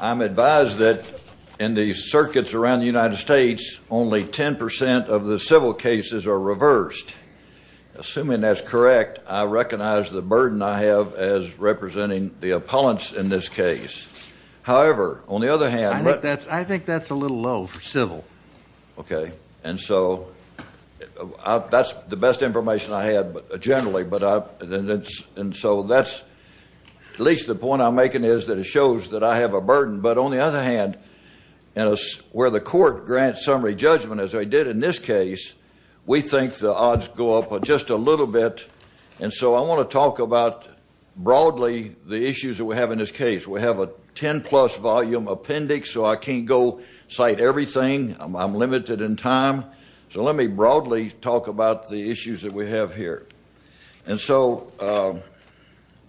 I'm advised that in the circuits around the United States, only 10% of the civil cases are reversed. Assuming that's correct, I recognize the burden I have as representing the appellants in this case. However, on the other hand... I think that's a little low for civil. Okay. And so... That's the best information I have generally, but I... And so that's... At least the point I'm making is that it shows that I have a burden. But on the other hand, where the court grants summary judgment, as they did in this case, we think the odds go up just a little bit. And so I want to talk about, broadly, the issues that we have in this case. We have a 10-plus volume appendix, so I can't go cite everything. I'm limited in time. So let me broadly talk about the issues that we have here. And so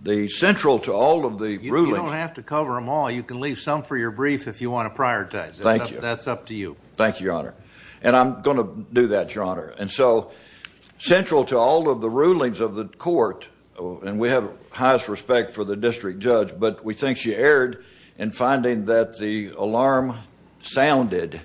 the central to all of the rulings... You don't have to cover them all. You can leave some for your brief if you want to prioritize. Thank you. That's up to you. Thank you, Your Honor. And I'm going to do that, Your Honor. And so central to all of the rulings of the court... And we have highest respect for the district judge, but we think she erred in finding that the alarm sounded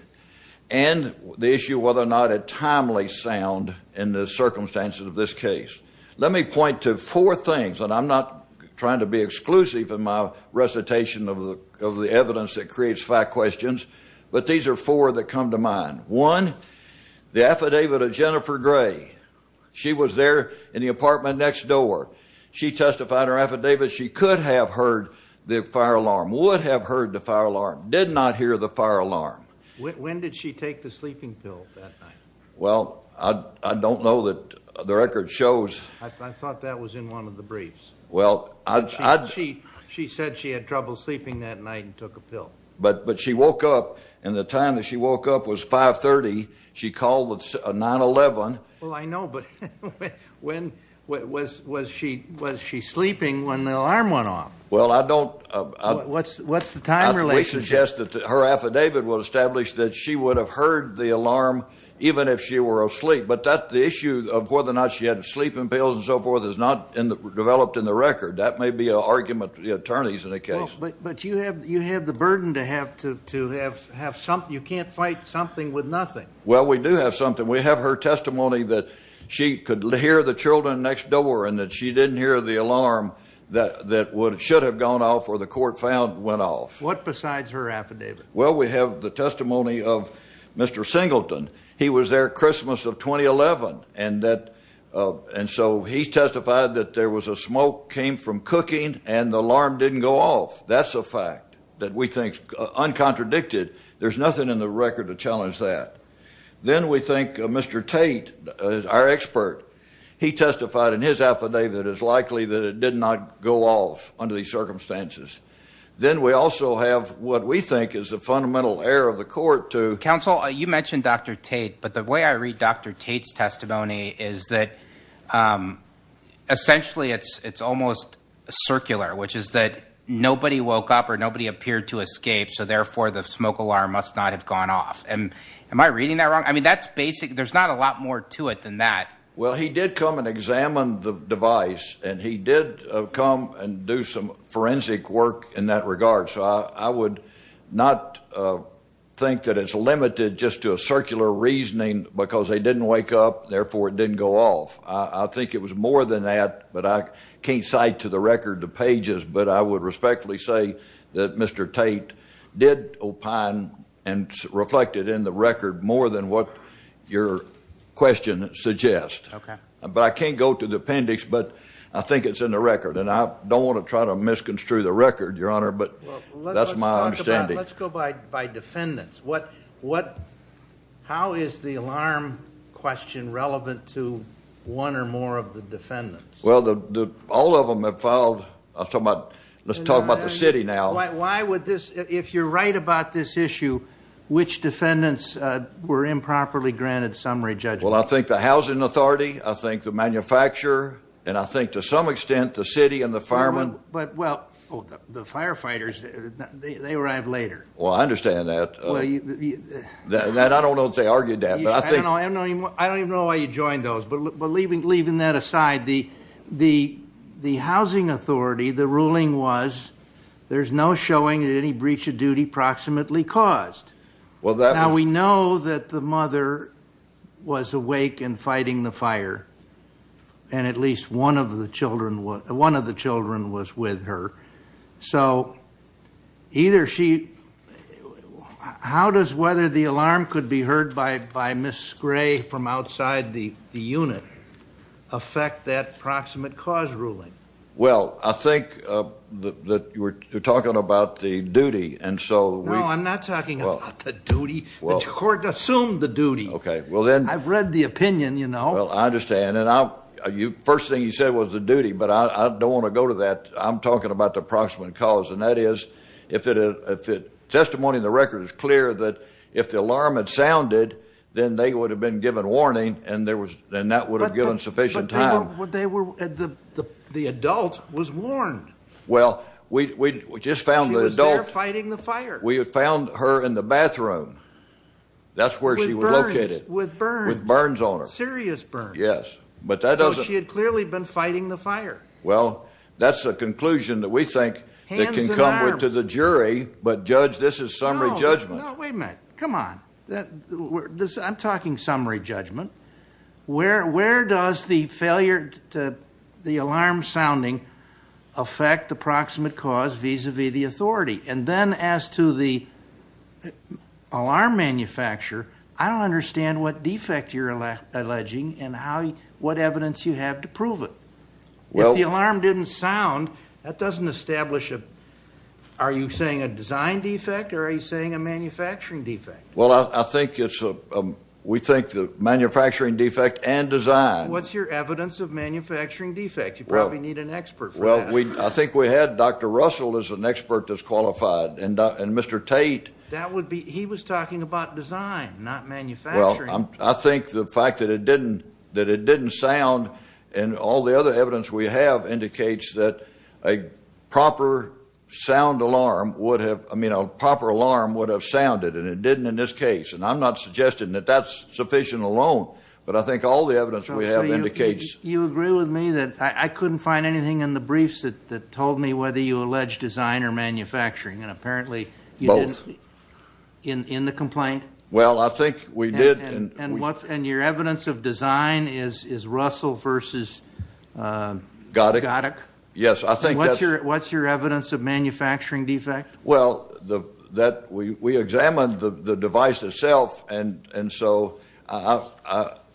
and the issue of whether or not it timely sounded in the circumstances of this case. Let me point to four things, and I'm not trying to be exclusive in my recitation of the evidence that creates five questions, but these are four that come to mind. One, the affidavit of Jennifer Gray. She was there in the apartment next door. She testified in her affidavit. She could have heard the fire alarm, would have heard the fire alarm, did not hear the fire alarm. When did she take the sleeping pill that night? Well, I don't know. The record shows... I thought that was in one of the briefs. Well, I... She said she had trouble sleeping that night and took a pill. But she woke up, and the time that she woke up was 530. She called the 911. Well, I know, but when... Was she sleeping when the alarm went off? Well, I don't... What's the time relation? We suggest that her affidavit would establish that she would have heard the alarm even if she were asleep. But the issue of whether or not she had sleeping pills and so forth is not developed in the record. That may be an argument for the attorneys in the case. Well, but you have the burden to have something. You can't fight something with nothing. Well, we do have something. We have her testimony that she could hear the children next door and that she didn't hear the alarm that should have gone off or the court found went off. What besides her affidavit? Well, we have the testimony of Mr. Singleton. He was there Christmas of 2011, and so he testified that there was a smoke came from cooking and the alarm didn't go off. That's a fact that we think is uncontradicted. There's nothing in the record to challenge that. Then we think Mr. Tate, our expert, he testified in his affidavit that it's likely that it did not go off under these circumstances. Then we also have what we think is the fundamental error of the court to... is that essentially it's almost circular, which is that nobody woke up or nobody appeared to escape, so therefore the smoke alarm must not have gone off. Am I reading that wrong? I mean, that's basic. There's not a lot more to it than that. Well, he did come and examine the device, and he did come and do some forensic work in that regard, so I would not think that it's limited just to a circular reasoning because they didn't wake up. Therefore, it didn't go off. I think it was more than that, but I can't cite to the record the pages, but I would respectfully say that Mr. Tate did opine and reflect it in the record more than what your question suggests. Okay. But I can't go to the appendix, but I think it's in the record, and I don't want to try to misconstrue the record, Your Honor, but that's my understanding. Let's go by defendants. How is the alarm question relevant to one or more of the defendants? Well, all of them have filed. Let's talk about the city now. Why would this? If you're right about this issue, which defendants were improperly granted summary judgment? Well, I think the housing authority, I think the manufacturer, and I think to some extent the city and the firemen. Well, the firefighters, they arrived later. Well, I understand that. I don't know if they argued that. I don't even know why you joined those, but leaving that aside, the housing authority, the ruling was there's no showing that any breach of duty proximately caused. Now, we know that the mother was awake and fighting the fire, and at least one of the children was with her. So how does whether the alarm could be heard by Ms. Gray from outside the unit affect that proximate cause ruling? Well, I think that you're talking about the duty, and so we— No, I'm not talking about the duty. The court assumed the duty. Okay, well then— I've read the opinion, you know. Well, I understand. And the first thing you said was the duty, but I don't want to go to that. I'm talking about the proximate cause, and that is if it— testimony in the record is clear that if the alarm had sounded, then they would have been given warning, and that would have given sufficient time. But they were—the adult was warned. Well, we just found the adult— She was there fighting the fire. We had found her in the bathroom. That's where she was located. With burns. With burns on her. Serious burns. Yes, but that doesn't— So she had clearly been fighting the fire. Well, that's a conclusion that we think that can come to the jury, but, Judge, this is summary judgment. No, no, wait a minute. Come on. I'm talking summary judgment. Where does the failure to—the alarm sounding affect the proximate cause vis-à-vis the authority? And then as to the alarm manufacturer, I don't understand what defect you're alleging and what evidence you have to prove it. If the alarm didn't sound, that doesn't establish a— are you saying a design defect or are you saying a manufacturing defect? Well, I think it's a—we think the manufacturing defect and design. What's your evidence of manufacturing defect? You probably need an expert for that. Well, I think we had Dr. Russell as an expert that's qualified, and Mr. Tate— That would be—he was talking about design, not manufacturing. Well, I think the fact that it didn't sound and all the other evidence we have indicates that a proper sound alarm would have—I mean, a proper alarm would have sounded, and it didn't in this case, and I'm not suggesting that that's sufficient alone, but I think all the evidence we have indicates— So you agree with me that I couldn't find anything in the briefs that told me whether you allege design or manufacturing, and apparently you didn't— Both. In the complaint? Well, I think we did— And your evidence of design is Russell versus— Goddick. Goddick. Yes, I think that's— What's your evidence of manufacturing defect? Well, we examined the device itself, and so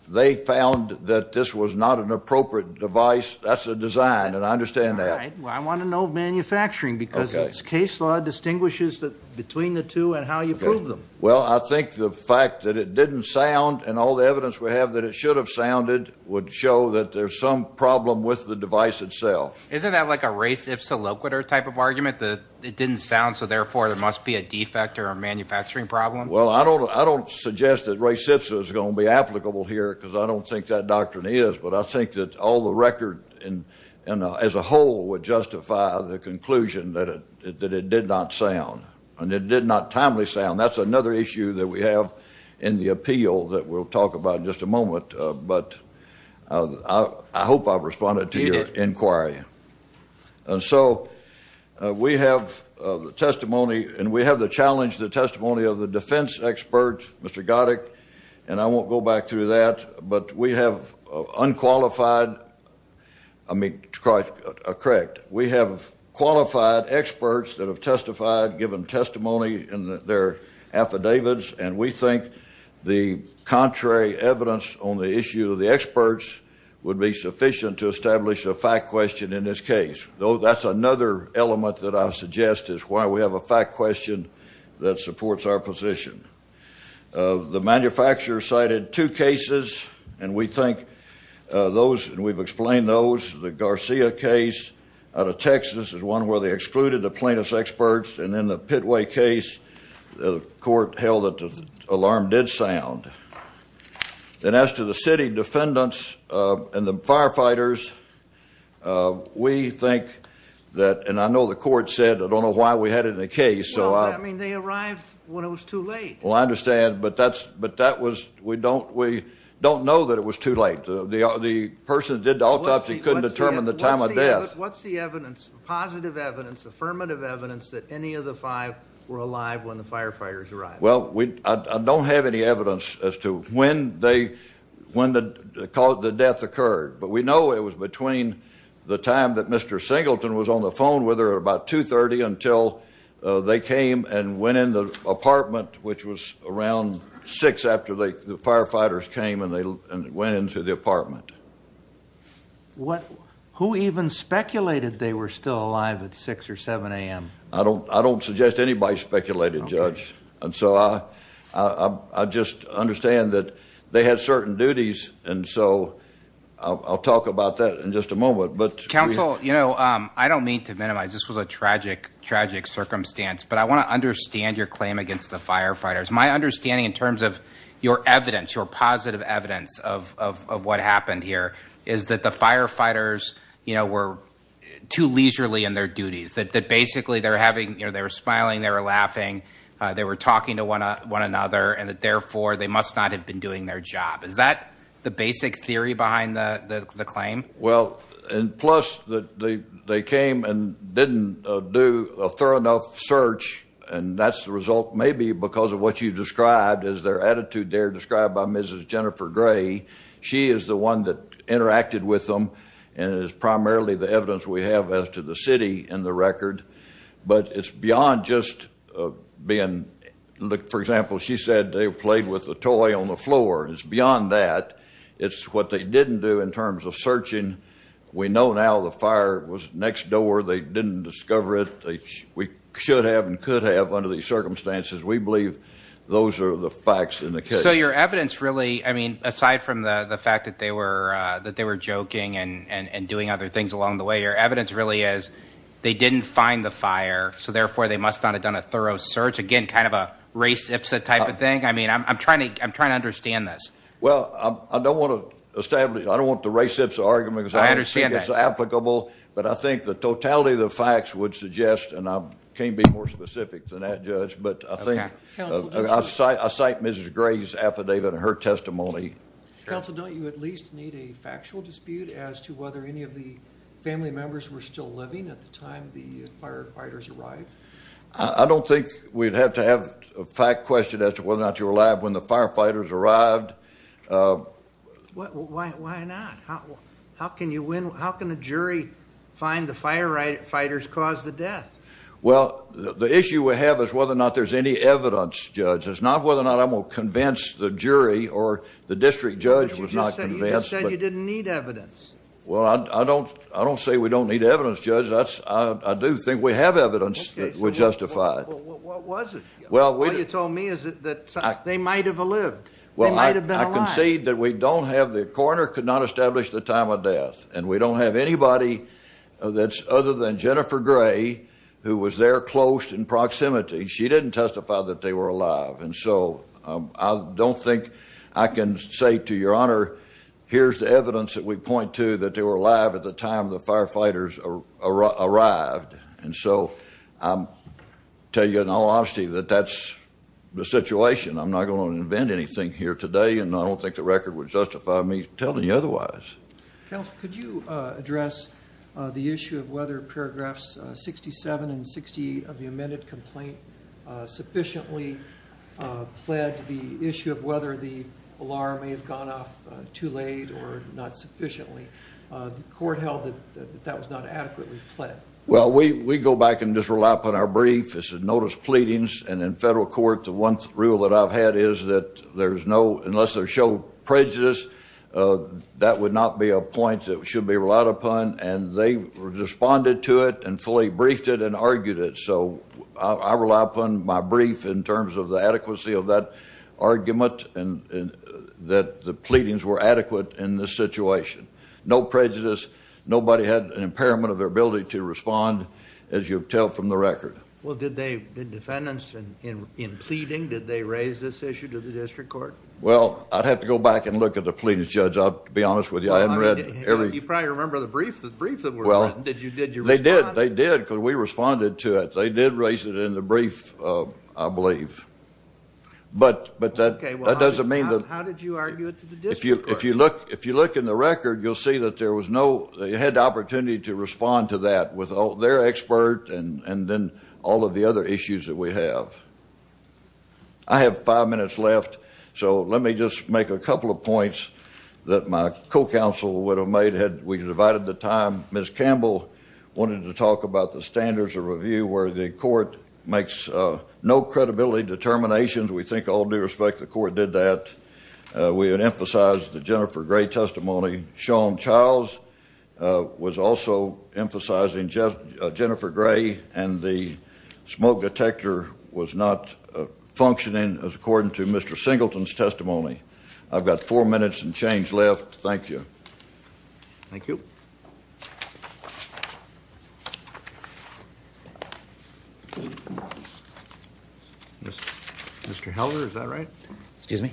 they found that this was not an appropriate device. That's a design, and I understand that. All right. Well, I want to know manufacturing, because its case law distinguishes between the two and how you prove them. Well, I think the fact that it didn't sound, and all the evidence we have that it should have sounded would show that there's some problem with the device itself. Isn't that like a res ipsa loquitur type of argument, that it didn't sound, so therefore there must be a defect or a manufacturing problem? Well, I don't suggest that res ipsa is going to be applicable here because I don't think that doctrine is, but I think that all the record as a whole would justify the conclusion that it did not sound, and it did not timely sound. That's another issue that we have in the appeal that we'll talk about in just a moment, but I hope I've responded to your inquiry. You did. And so we have the testimony, and we have the challenge, the testimony of the defense expert, Mr. Goddick, and I won't go back through that, but we have unqualified—I mean, correct. We have qualified experts that have testified, given testimony in their affidavits, and we think the contrary evidence on the issue of the experts would be sufficient to establish a fact question in this case. That's another element that I suggest is why we have a fact question that supports our position. The manufacturer cited two cases, and we think those, and we've explained those, the Garcia case out of Texas is one where they excluded the plaintiff's experts, and then the Pitway case, the court held that the alarm did sound. And as to the city defendants and the firefighters, we think that— and I know the court said, I don't know why we had it in the case, so I— Well, that means they arrived when it was too late. Well, I understand, but that was—we don't know that it was too late. The person that did the autopsy couldn't determine the time of death. What's the evidence, positive evidence, affirmative evidence, that any of the five were alive when the firefighters arrived? Well, I don't have any evidence as to when the death occurred, but we know it was between the time that Mr. Singleton was on the phone with her, about 2.30, until they came and went in the apartment, which was around 6 after the firefighters came and went into the apartment. Who even speculated they were still alive at 6 or 7 a.m.? I don't suggest anybody speculated, Judge. And so I just understand that they had certain duties, and so I'll talk about that in just a moment, but— Counsel, you know, I don't mean to minimize, this was a tragic, tragic circumstance, but I want to understand your claim against the firefighters. My understanding in terms of your evidence, your positive evidence of what happened here is that the firefighters, you know, were too leisurely in their duties, that basically they were smiling, they were laughing, they were talking to one another, and that therefore they must not have been doing their job. Is that the basic theory behind the claim? Well, plus they came and didn't do a thorough enough search, and that's the result maybe because of what you described as their attitude there, described by Mrs. Jennifer Gray. She is the one that interacted with them, and it is primarily the evidence we have as to the city in the record. But it's beyond just being—for example, she said they played with a toy on the floor. It's beyond that. It's what they didn't do in terms of searching. We know now the fire was next door. They didn't discover it. We should have and could have under these circumstances. We believe those are the facts in the case. So your evidence really, I mean, aside from the fact that they were joking and doing other things along the way, your evidence really is they didn't find the fire, so therefore they must not have done a thorough search. Again, kind of a race ipsa type of thing. I mean, I'm trying to understand this. Well, I don't want to establish—I don't want the race ipsa argument because I don't think it's applicable. But I think the totality of the facts would suggest, and I can't be more specific than that, Judge, but I think— Okay. I cite Mrs. Gray's affidavit and her testimony. Counsel, don't you at least need a factual dispute as to whether any of the family members were still living at the time the firefighters arrived? I don't think we'd have to have a fact question as to whether or not you were alive when the firefighters arrived. Why not? How can a jury find the firefighters caused the death? Well, the issue we have is whether or not there's any evidence, Judge. It's not whether or not I'm going to convince the jury or the district judge was not convinced. But you just said you didn't need evidence. Well, I don't say we don't need evidence, Judge. I do think we have evidence that would justify it. Okay, so what was it? All you told me is that they might have lived. They might have been alive. Well, I concede that we don't have—the coroner could not establish the time of death. And we don't have anybody other than Jennifer Gray, who was there close in proximity. She didn't testify that they were alive. And so I don't think I can say to Your Honor, here's the evidence that we point to that they were alive at the time the firefighters arrived. And so I'll tell you in all honesty that that's the situation. I'm not going to invent anything here today, and I don't think the record would justify me telling you otherwise. Counsel, could you address the issue of whether paragraphs 67 and 68 of the amended complaint sufficiently pled the issue of whether the alarm may have gone off too late or not sufficiently? The court held that that was not adequately pled. Well, we go back and just rely upon our brief. It's a notice of pleadings. And in federal court, the one rule that I've had is that there's no—unless they show prejudice, that would not be a point that should be relied upon. And they responded to it and fully briefed it and argued it. So I rely upon my brief in terms of the adequacy of that argument and that the pleadings were adequate in this situation. No prejudice. Nobody had an impairment of their ability to respond, as you tell from the record. Well, did the defendants in pleading, did they raise this issue to the district court? Well, I'd have to go back and look at the pleadings, Judge. I'll be honest with you. I haven't read every— You probably remember the brief that were written. Did you respond? They did. They did because we responded to it. They did raise it in the brief, I believe. But that doesn't mean that— How did you argue it to the district court? If you look in the record, you'll see that there was no— they had the opportunity to respond to that with their expert and then all of the other issues that we have. I have five minutes left, so let me just make a couple of points that my co-counsel would have made had we divided the time. Ms. Campbell wanted to talk about the standards of review where the court makes no credibility determinations. We think all due respect, the court did that. We had emphasized the Jennifer Gray testimony. Sean Charles was also emphasizing Jennifer Gray, and the smoke detector was not functioning as according to Mr. Singleton's testimony. I've got four minutes and change left. Thank you. Thank you. Mr. Helder, is that right? Excuse me?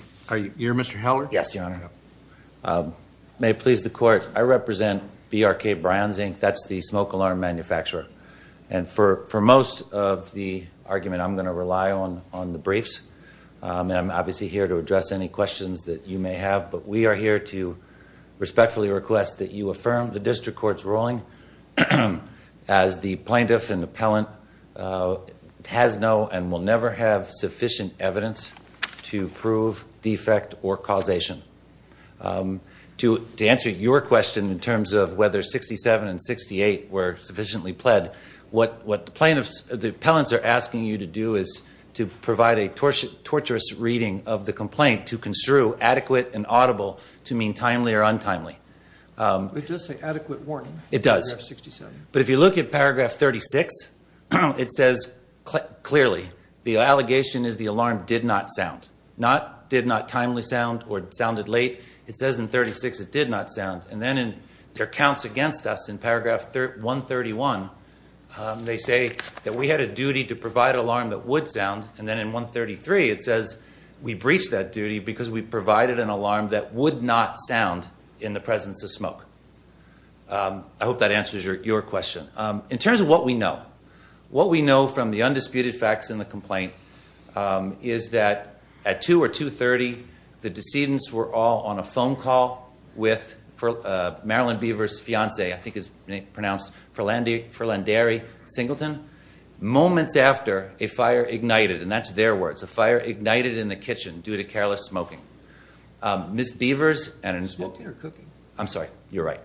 You're Mr. Helder? Yes, Your Honor. May it please the court, I represent BRK Brands, Inc. That's the smoke alarm manufacturer. For most of the argument, I'm going to rely on the briefs. I'm obviously here to address any questions that you may have, but we are here to respectfully request that you affirm the district court's ruling as the plaintiff and appellant has no and will never have sufficient evidence to prove defect or causation. To answer your question in terms of whether 67 and 68 were sufficiently pled, what the appellants are asking you to do is to provide a torturous reading of the complaint to construe adequate and audible to mean timely or untimely. It does. But if you look at paragraph 36, it says clearly, the allegation is the alarm did not sound. Not did not timely sound or sounded late. It says in 36 it did not sound. And then there are counts against us in paragraph 131. They say that we had a duty to provide an alarm that would sound, and then in 133 it says we breached that duty because we provided an alarm that would not sound in the presence of smoke. I hope that answers your question. In terms of what we know, what we know from the undisputed facts in the complaint is that at 2 or 2.30, the decedents were all on a phone call with Marilyn Beaver's fiance, I think it's pronounced Ferlanderi Singleton. Moments after, a fire ignited, and that's their words, a fire ignited in the kitchen due to careless smoking. Ms. Beaver's... Smoking or cooking? I'm sorry. You're right.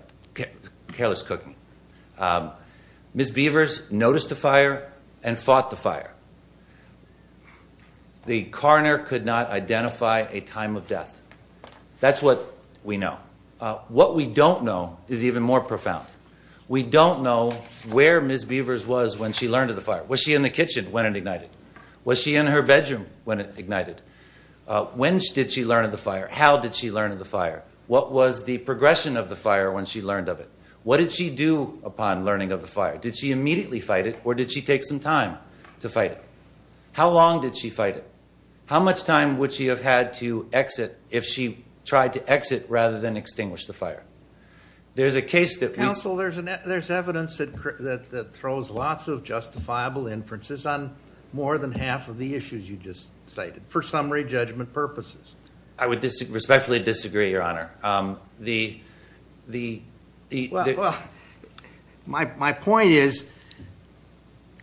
Careless cooking. Ms. Beaver's noticed the fire and fought the fire. The coroner could not identify a time of death. That's what we know. What we don't know is even more profound. We don't know where Ms. Beaver's was when she learned of the fire. Was she in the kitchen when it ignited? Was she in her bedroom when it ignited? When did she learn of the fire? How did she learn of the fire? What was the progression of the fire when she learned of it? What did she do upon learning of the fire? Did she immediately fight it or did she take some time to fight it? How long did she fight it? How much time would she have had to exit if she tried to exit rather than extinguish the fire? There's a case that we... Counsel, there's evidence that throws lots of justifiable inferences on more than half of the issues you just cited, for summary judgment purposes. I would respectfully disagree, Your Honor. The... Well, my point is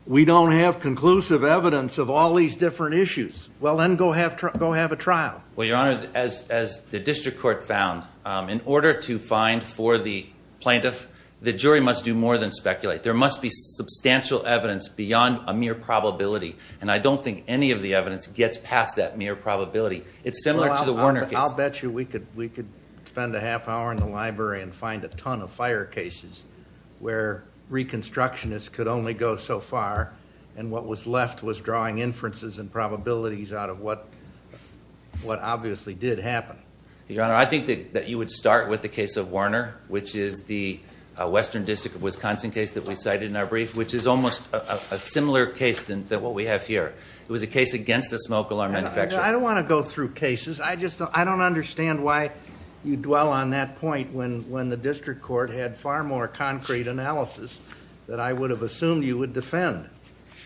we don't have conclusive evidence of all these different issues. Well, then go have a trial. Well, Your Honor, as the district court found, in order to find for the plaintiff, the jury must do more than speculate. There must be substantial evidence beyond a mere probability, and I don't think any of the evidence gets past that mere probability. It's similar to the Warner case. I'll bet you we could spend a half hour in the library and find a ton of fire cases where reconstructionists could only go so far, and what was left was drawing inferences and probabilities out of what obviously did happen. Your Honor, I think that you would start with the case of Warner, which is the Western District of Wisconsin case that we cited in our brief, which is almost a similar case than what we have here. It was a case against a smoke alarm manufacturer. Your Honor, I don't want to go through cases. I just don't understand why you dwell on that point when the district court had far more concrete analysis that I would have assumed you would defend.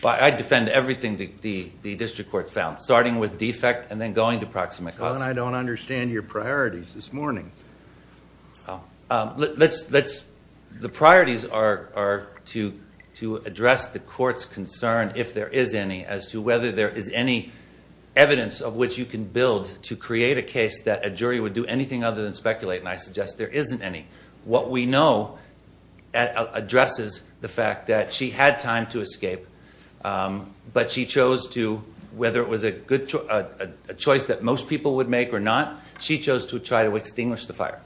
I defend everything the district court found, starting with defect and then going to proximate cause. Well, then I don't understand your priorities this morning. Let's... The priorities are to address the court's concern, if there is any, as to whether there is any evidence of which you can build to create a case that a jury would do anything other than speculate, and I suggest there isn't any. What we know addresses the fact that she had time to escape, but she chose to, whether it was a choice that most people would make or not, she chose to try to extinguish the fire.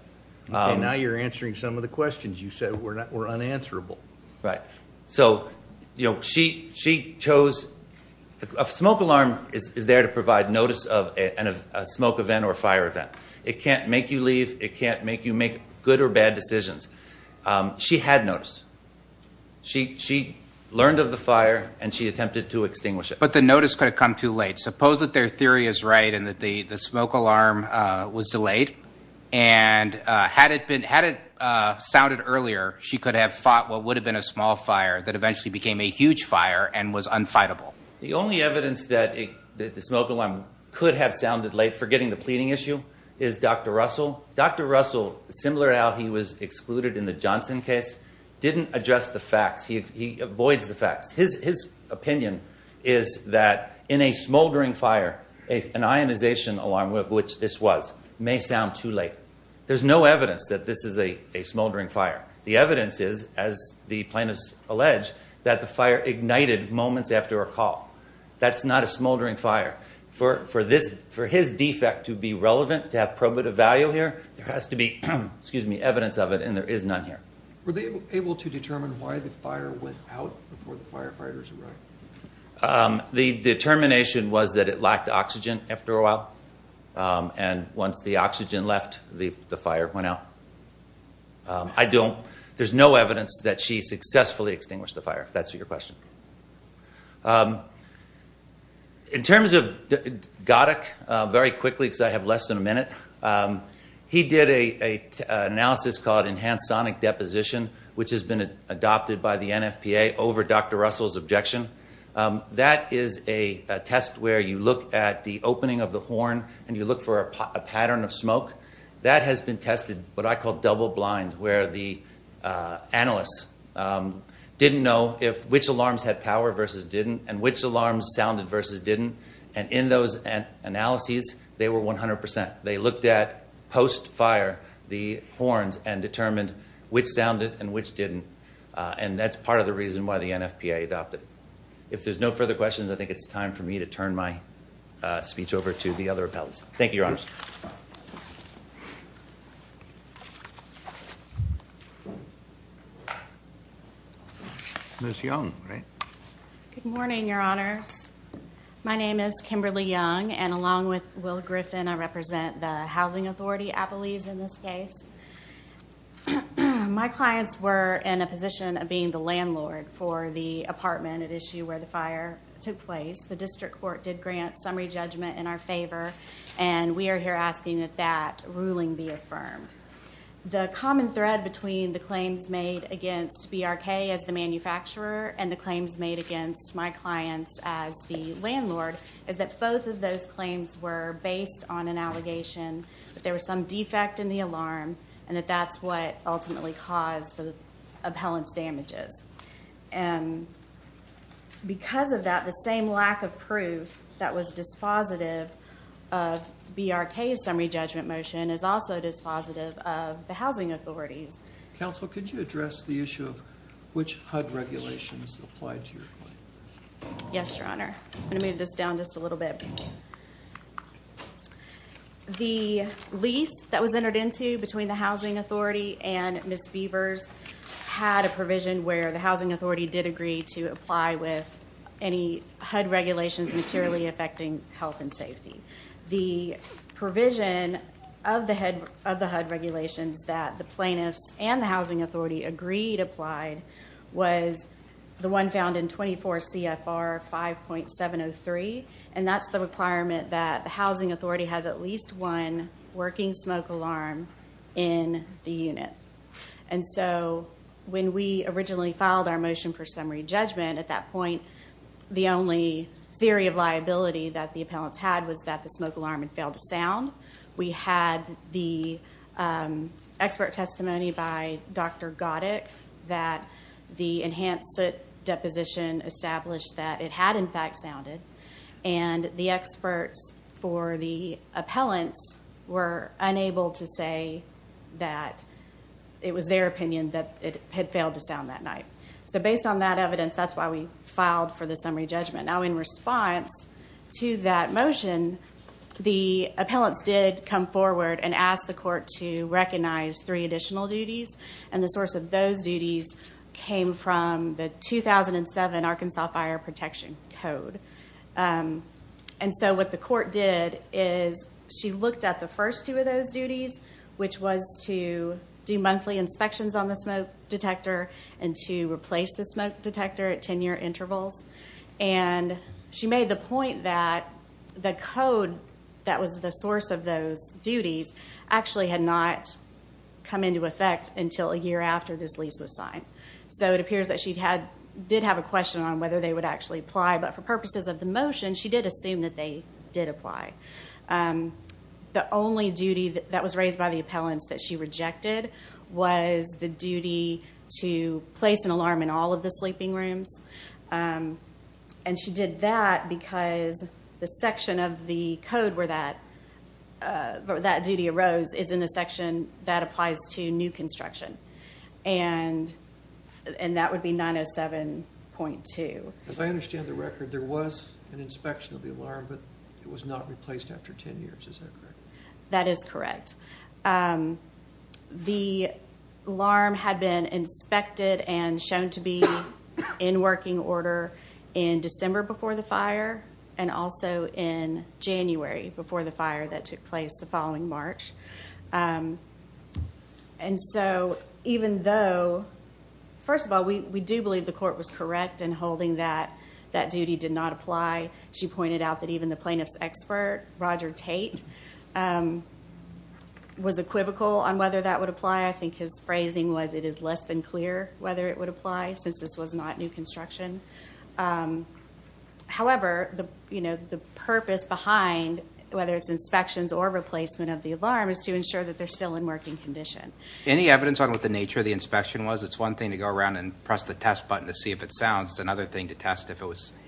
Okay, now you're answering some of the questions you said were unanswerable. Right. So, you know, she chose... A smoke alarm is there to provide notice of a smoke event or a fire event. It can't make you leave. It can't make you make good or bad decisions. She had notice. She learned of the fire, and she attempted to extinguish it. But the notice could have come too late. Suppose that their theory is right and that the smoke alarm was delayed, and had it sounded earlier, she could have fought what would have been a small fire that eventually became a huge fire and was unfightable. The only evidence that the smoke alarm could have sounded late, forgetting the pleading issue, is Dr. Russell. Dr. Russell, similar to how he was excluded in the Johnson case, didn't address the facts. He avoids the facts. His opinion is that in a smoldering fire, an ionization alarm, of which this was, may sound too late. There's no evidence that this is a smoldering fire. The evidence is, as the plaintiffs allege, that the fire ignited moments after a call. That's not a smoldering fire. For his defect to be relevant, to have probative value here, there has to be evidence of it, and there is none here. Were they able to determine why the fire went out before the firefighters arrived? The determination was that it lacked oxygen after a while, and once the oxygen left, the fire went out. There's no evidence that she successfully extinguished the fire, if that's your question. In terms of Goddick, very quickly, because I have less than a minute, he did an analysis called enhanced sonic deposition, which has been adopted by the NFPA over Dr. Russell's objection. That is a test where you look at the opening of the horn and you look for a pattern of smoke. That has been tested, what I call double blind, where the analysts didn't know which alarms had power versus didn't and which alarms sounded versus didn't, and in those analyses, they were 100%. They looked at post-fire the horns and determined which sounded and which didn't, and that's part of the reason why the NFPA adopted it. If there's no further questions, I think it's time for me to turn my speech over to the other appellants. Thank you, Your Honors. Ms. Young, right? Good morning, Your Honors. My name is Kimberly Young, and along with Will Griffin, I represent the Housing Authority Appellees in this case. My clients were in a position of being the landlord for the apartment at issue where the fire took place. The district court did grant summary judgment in our favor, and we are here asking that that ruling be affirmed. The common thread between the claims made against BRK as the manufacturer and the claims made against my clients as the landlord is that both of those claims were based on an allegation that there was some defect in the alarm and that that's what ultimately caused the appellant's damages. And because of that, the same lack of proof that was dispositive of BRK's summary judgment motion is also dispositive of the housing authorities. Counsel, could you address the issue of which HUD regulations applied to your claim? Yes, Your Honor. I'm going to move this down just a little bit. The lease that was entered into between the Housing Authority and Ms. Beavers had a provision where the Housing Authority did agree to apply with any HUD regulations materially affecting health and safety. The provision of the HUD regulations that the plaintiffs and the Housing Authority agreed applied was the one found in 24 CFR 5.703, and that's the requirement that the Housing Authority has at least one working smoke alarm in the unit. And so when we originally filed our motion for summary judgment, at that point the only theory of liability that the appellants had was that the smoke alarm had failed to sound. We had the expert testimony by Dr. Goddick that the enhanced soot deposition established that it had in fact sounded, and the experts for the appellants were unable to say that it was their opinion that it had failed to sound that night. So based on that evidence, that's why we filed for the summary judgment. Now in response to that motion, the appellants did come forward and asked the court to recognize three additional duties, and the source of those duties came from the 2007 Arkansas Fire Protection Code. And so what the court did is she looked at the first two of those duties, which was to do monthly inspections on the smoke detector and to replace the smoke detector at 10-year intervals, and she made the point that the code that was the source of those duties actually had not come into effect until a year after this lease was signed. So it appears that she did have a question on whether they would actually apply, but for purposes of the motion she did assume that they did apply. The only duty that was raised by the appellants that she rejected was the duty to place an alarm in all of the sleeping rooms, and she did that because the section of the code where that duty arose is in the section that applies to new construction, and that would be 907.2. As I understand the record, there was an inspection of the alarm, but it was not replaced after 10 years. Is that correct? That is correct. The alarm had been inspected and shown to be in working order in December before the fire and also in January before the fire that took place the following March. And so even though, first of all, we do believe the court was correct in holding that that duty did not apply. She pointed out that even the plaintiff's expert, Roger Tate, was equivocal on whether that would apply. I think his phrasing was it is less than clear whether it would apply since this was not new construction. However, the purpose behind, whether it's inspections or replacement of the alarm, is to ensure that they're still in working condition. Any evidence on what the nature of the inspection was? It's one thing to go around and press the test button to see if it sounds. It's another thing to test if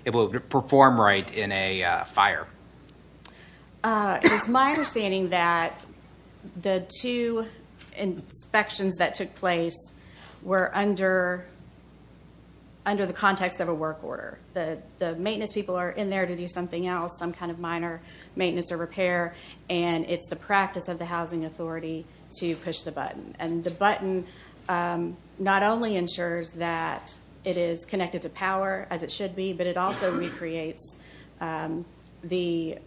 it will perform right in a fire. It's my understanding that the two inspections that took place were under the context of a work order. The maintenance people are in there to do something else, some kind of minor maintenance or repair, and it's the practice of the housing authority to push the button. The button not only ensures that it is connected to power, as it should be, but it also recreates the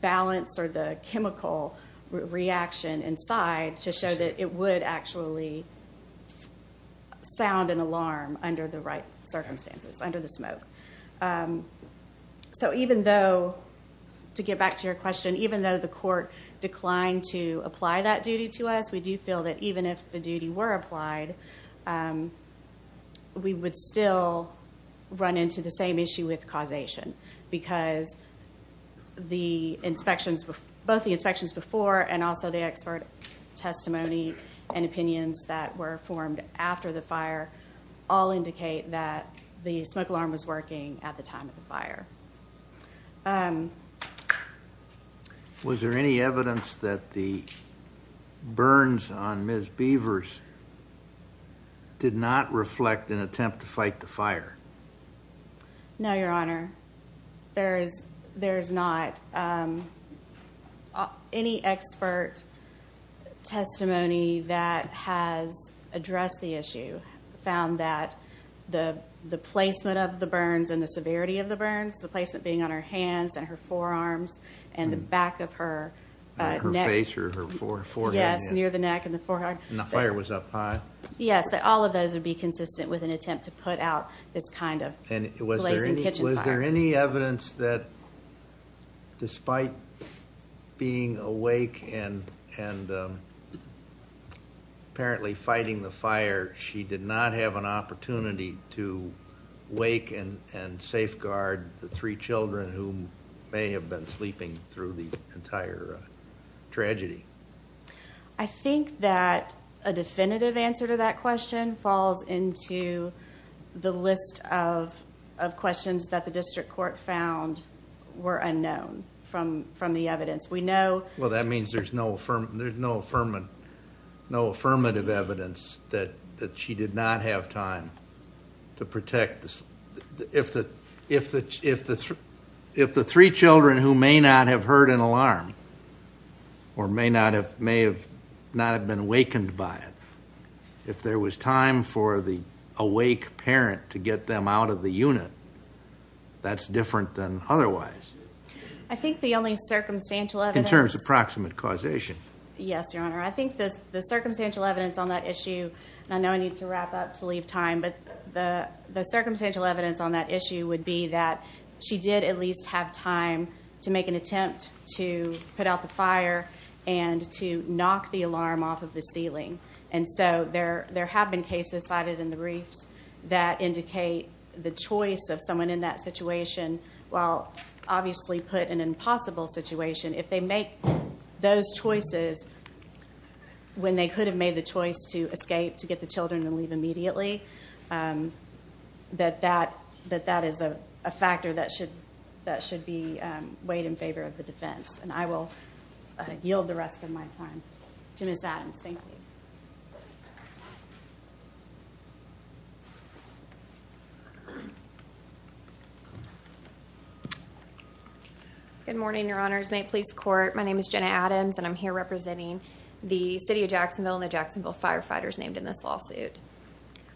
balance or the chemical reaction inside to show that it would actually sound an alarm under the right circumstances, under the smoke. Even though, to get back to your question, even though the court declined to apply that duty to us, we do feel that even if the duty were applied, we would still run into the same issue with causation because both the inspections before and also the expert testimony and opinions that were formed after the fire all indicate that the smoke alarm was working at the time of the fire. Was there any evidence that the burns on Ms. Beavers did not reflect an attempt to fight the fire? No, Your Honor. There is not. Any expert testimony that has addressed the issue found that the placement of the burns and the severity of the burns, the placement being on her hands and her forearms and the back of her neck. Her face or her forehead. Yes, near the neck and the forehead. And the fire was up high. Yes, all of those would be consistent with an attempt to put out this kind of blazing kitchen fire. Was there any evidence that despite being awake and apparently fighting the fire, she did not have an opportunity to wake and safeguard the three children who may have been sleeping through the entire tragedy? I think that a definitive answer to that question falls into the list of questions that the district court found were unknown from the evidence. Well, that means there's no affirmative evidence that she did not have time to protect. If the three children who may not have heard an alarm or may not have been awakened by it, if there was time for the awake parent to get them out of the unit, that's different than otherwise. I think the only circumstantial evidence... In terms of proximate causation. Yes, Your Honor. I think the circumstantial evidence on that issue, and I know I need to wrap up to leave time, but the circumstantial evidence on that issue would be that she did at least have time to make an attempt to put out the fire and to knock the alarm off of the ceiling. And so there have been cases cited in the briefs that indicate the choice of someone in that situation, while obviously put in an impossible situation, if they make those choices when they could have made the choice to escape, to get the children and leave immediately, that that is a factor that should be weighed in favor of the defense. And I will yield the rest of my time to Ms. Adams. Thank you. Good morning, Your Honors. May it please the Court, my name is Jenna Adams, and I'm here representing the City of Jacksonville and the Jacksonville firefighters named in this lawsuit.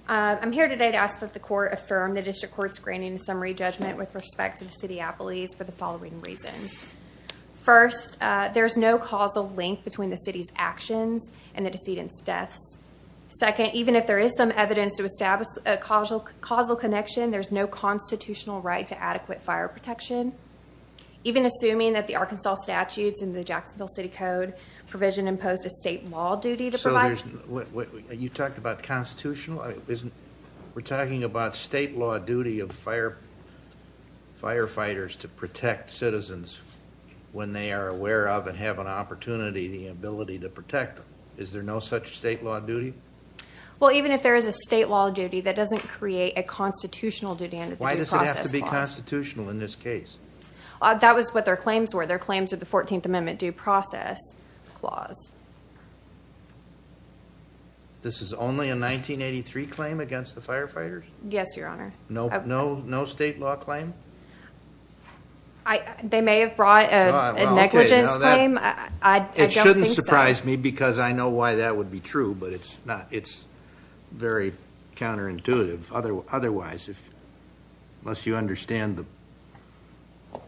I'm here today to ask that the Court affirm the District Court's granting summary judgment with respect to the City of Appalachia for the following reasons. First, there's no causal link between the City's actions and the decedent's deaths. Second, even if there is some evidence to establish a causal connection, there's no constitutional right to adequate fire protection. Even assuming that the Arkansas statutes and the Jacksonville City Code provision imposed a state law duty to provide. So you talked about constitutional? We're talking about state law duty of firefighters to protect citizens when they are aware of and have an opportunity, the ability to protect them. Is there no such state law duty? Well, even if there is a state law duty, that doesn't create a constitutional duty under the Due Process Clause. Why does it have to be constitutional in this case? That was what their claims were. Their claims are the 14th Amendment Due Process Clause. This is only a 1983 claim against the firefighters? Yes, Your Honor. No state law claim? They may have brought a negligence claim. I don't think so. It shouldn't surprise me because I know why that would be true, but it's very counterintuitive. Otherwise, unless you understand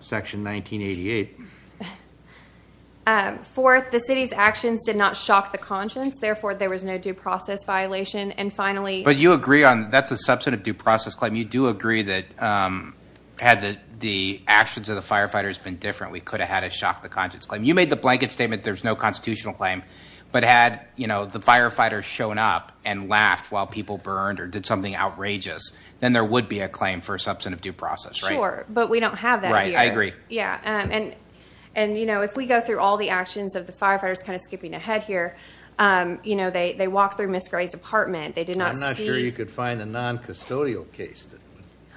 Section 1988. Fourth, the city's actions did not shock the conscience. Therefore, there was no due process violation. But you agree on that's a substantive due process claim. You do agree that had the actions of the firefighters been different, we could have had a shock the conscience claim. You made the blanket statement there's no constitutional claim, but had the firefighters shown up and laughed while people burned or did something outrageous, then there would be a claim for a substantive due process. Sure, but we don't have that here. I agree. If we go through all the actions of the firefighters, skipping ahead here, they walked through Ms. Gray's apartment. I'm not sure you could find a non-custodial case.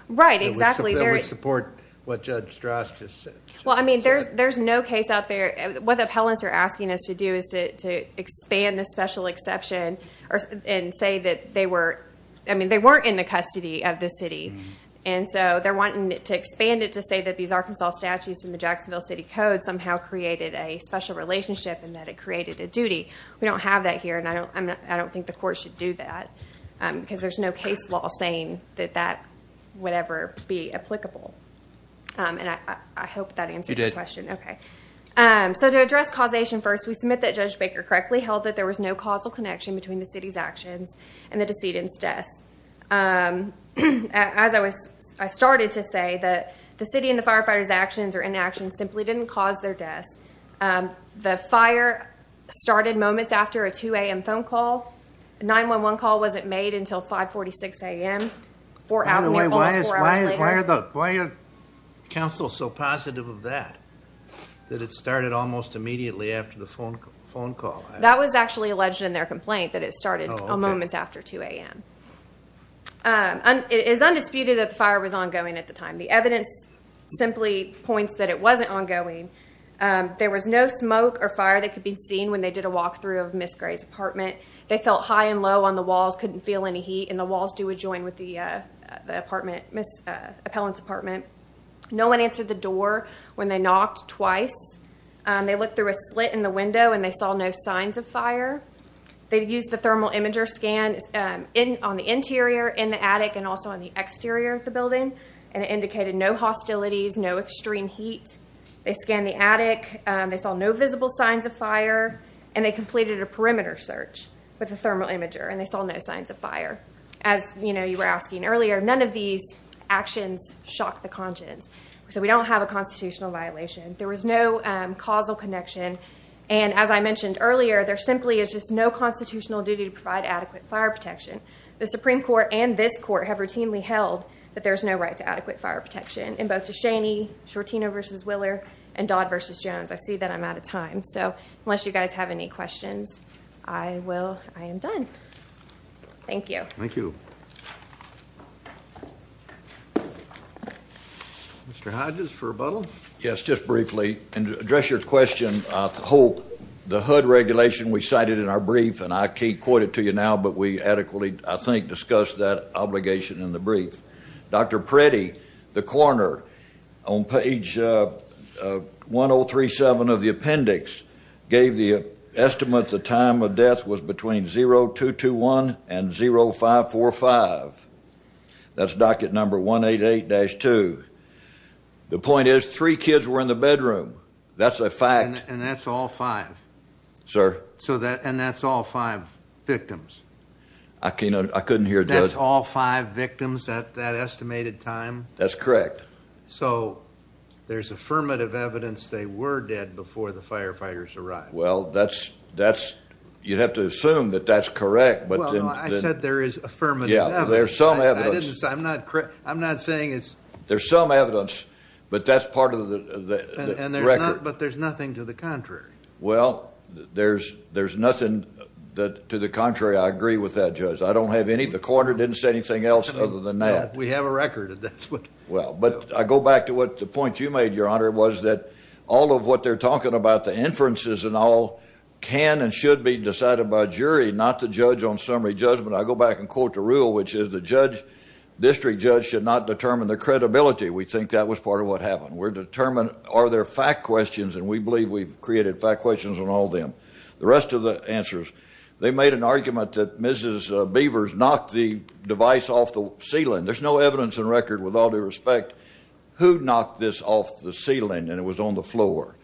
Right, exactly. That would support what Judge Strauss just said. There's no case out there. What the appellants are asking us to do is to expand the special exception and say that they weren't in the custody of the city. They're wanting to expand it to say that these Arkansas statutes and the Jacksonville City Code somehow created a special relationship and that it created a duty. We don't have that here, and I don't think the court should do that because there's no case law saying that that would ever be applicable. I hope that answered your question. You did. Okay. To address causation first, we submit that Judge Baker correctly held that there was no causal connection between the city's actions and the decedent's deaths. As I started to say, the city and the firefighters' actions or inactions simply didn't cause their deaths. The fire started moments after a 2 a.m. phone call. A 911 call wasn't made until 5.46 a.m. Four hours later. By the way, why are the council so positive of that, that it started almost immediately after the phone call? That was actually alleged in their complaint, that it started moments after 2 a.m. It is undisputed that the fire was ongoing at the time. The evidence simply points that it wasn't ongoing. There was no smoke or fire that could be seen when they did a walkthrough of Ms. Gray's apartment. They felt high and low on the walls, couldn't feel any heat, and the walls do adjoin with the appellant's apartment. No one answered the door when they knocked twice. They looked through a slit in the window and they saw no signs of fire. They used the thermal imager scan on the interior, in the attic, and also on the exterior of the building, and it indicated no hostilities, no extreme heat. They scanned the attic, they saw no visible signs of fire, and they completed a perimeter search with the thermal imager and they saw no signs of fire. As you were asking earlier, none of these actions shocked the conscience. So we don't have a constitutional violation. There was no causal connection. And as I mentioned earlier, there simply is just no constitutional duty to provide adequate fire protection. The Supreme Court and this court have routinely held that there's no right to adequate fire protection. And both to Shaney, Shortino v. Willer, and Dodd v. Jones, I see that I'm out of time. So unless you guys have any questions, I am done. Thank you. Thank you. Mr. Hodges for rebuttal? Yes, just briefly. To address your question, the HUD regulation we cited in our brief, and I can't quote it to you now, but we adequately, I think, discussed that obligation in the brief. Dr. Pretty, the coroner, on page 1037 of the appendix, gave the estimate the time of death was between 0221 and 0545. That's docket number 188-2. The point is three kids were in the bedroom. That's a fact. And that's all five? Sir? And that's all five victims? I couldn't hear. That's all five victims at that estimated time? That's correct. So there's affirmative evidence they were dead before the firefighters arrived? Well, you'd have to assume that that's correct. Well, I said there is affirmative evidence. Yeah, there's some evidence. I'm not saying it's. There's some evidence, but that's part of the record. But there's nothing to the contrary. Well, there's nothing to the contrary. I agree with that, Judge. I don't have any. The coroner didn't say anything else other than that. We have a record. Well, but I go back to the point you made, Your Honor, was that all of what they're talking about, the inferences and all, can and should be decided by a jury, not the judge on summary judgment. I go back and quote the rule, which is, the district judge should not determine the credibility. We think that was part of what happened. We're determined, are there fact questions, and we believe we've created fact questions on all of them. The rest of the answers, they made an argument that Mrs. Beavers knocked the device off the ceiling. There's no evidence in record, with all due respect, who knocked this off the ceiling and it was on the floor.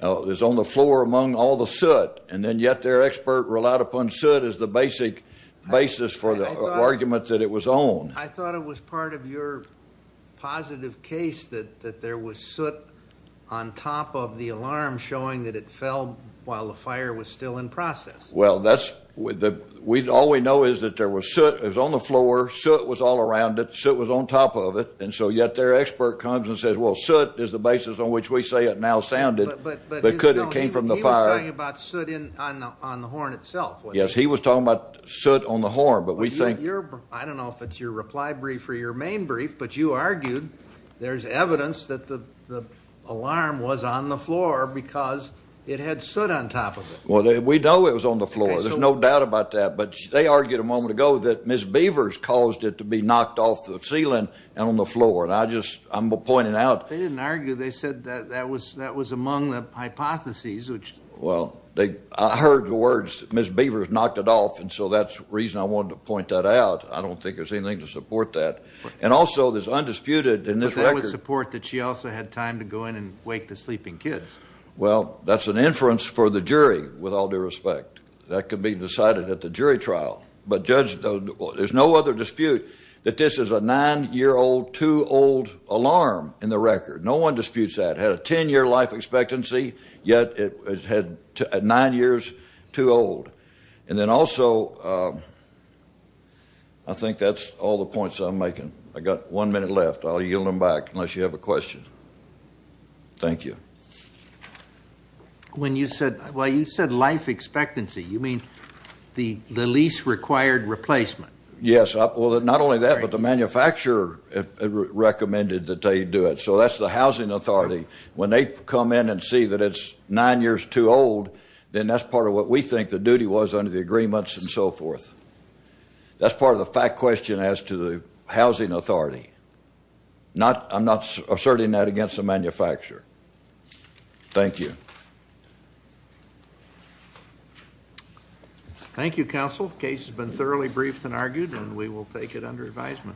It was on the floor among all the soot, and then yet their expert relied upon soot as the basic basis for the argument that it was on. I thought it was part of your positive case that there was soot on top of the alarm showing that it fell while the fire was still in process. Well, all we know is that there was soot, it was on the floor, soot was all around it, soot was on top of it, and so yet their expert comes and says, well, soot is the basis on which we say it now sounded, but could it have came from the fire? No, he was talking about soot on the horn itself. Yes, he was talking about soot on the horn. I don't know if it's your reply brief or your main brief, but you argued there's evidence that the alarm was on the floor because it had soot on top of it. Well, we know it was on the floor. There's no doubt about that, but they argued a moment ago that Mrs. Beavers caused it to be knocked off the ceiling and on the floor, and I'm pointing out. They didn't argue. They said that was among the hypotheses. Well, I heard the words Mrs. Beavers knocked it off, and so that's the reason I wanted to point that out. I don't think there's anything to support that. And also there's undisputed in this record. But that would support that she also had time to go in and wake the sleeping kids. Well, that's an inference for the jury, with all due respect. That could be decided at the jury trial. But, Judge, there's no other dispute that this is a nine-year-old, two-old alarm in the record. No one disputes that. It had a ten-year life expectancy, yet it had nine years too old. And then also I think that's all the points I'm making. I've got one minute left. I'll yield them back unless you have a question. Thank you. When you said life expectancy, you mean the lease required replacement? Yes. Well, not only that, but the manufacturer recommended that they do it. So that's the housing authority. When they come in and see that it's nine years too old, then that's part of what we think the duty was under the agreements and so forth. That's part of the fact question as to the housing authority. I'm not asserting that against the manufacturer. Thank you. Thank you, Counsel. The case has been thoroughly briefed and argued, and we will take it under advisement.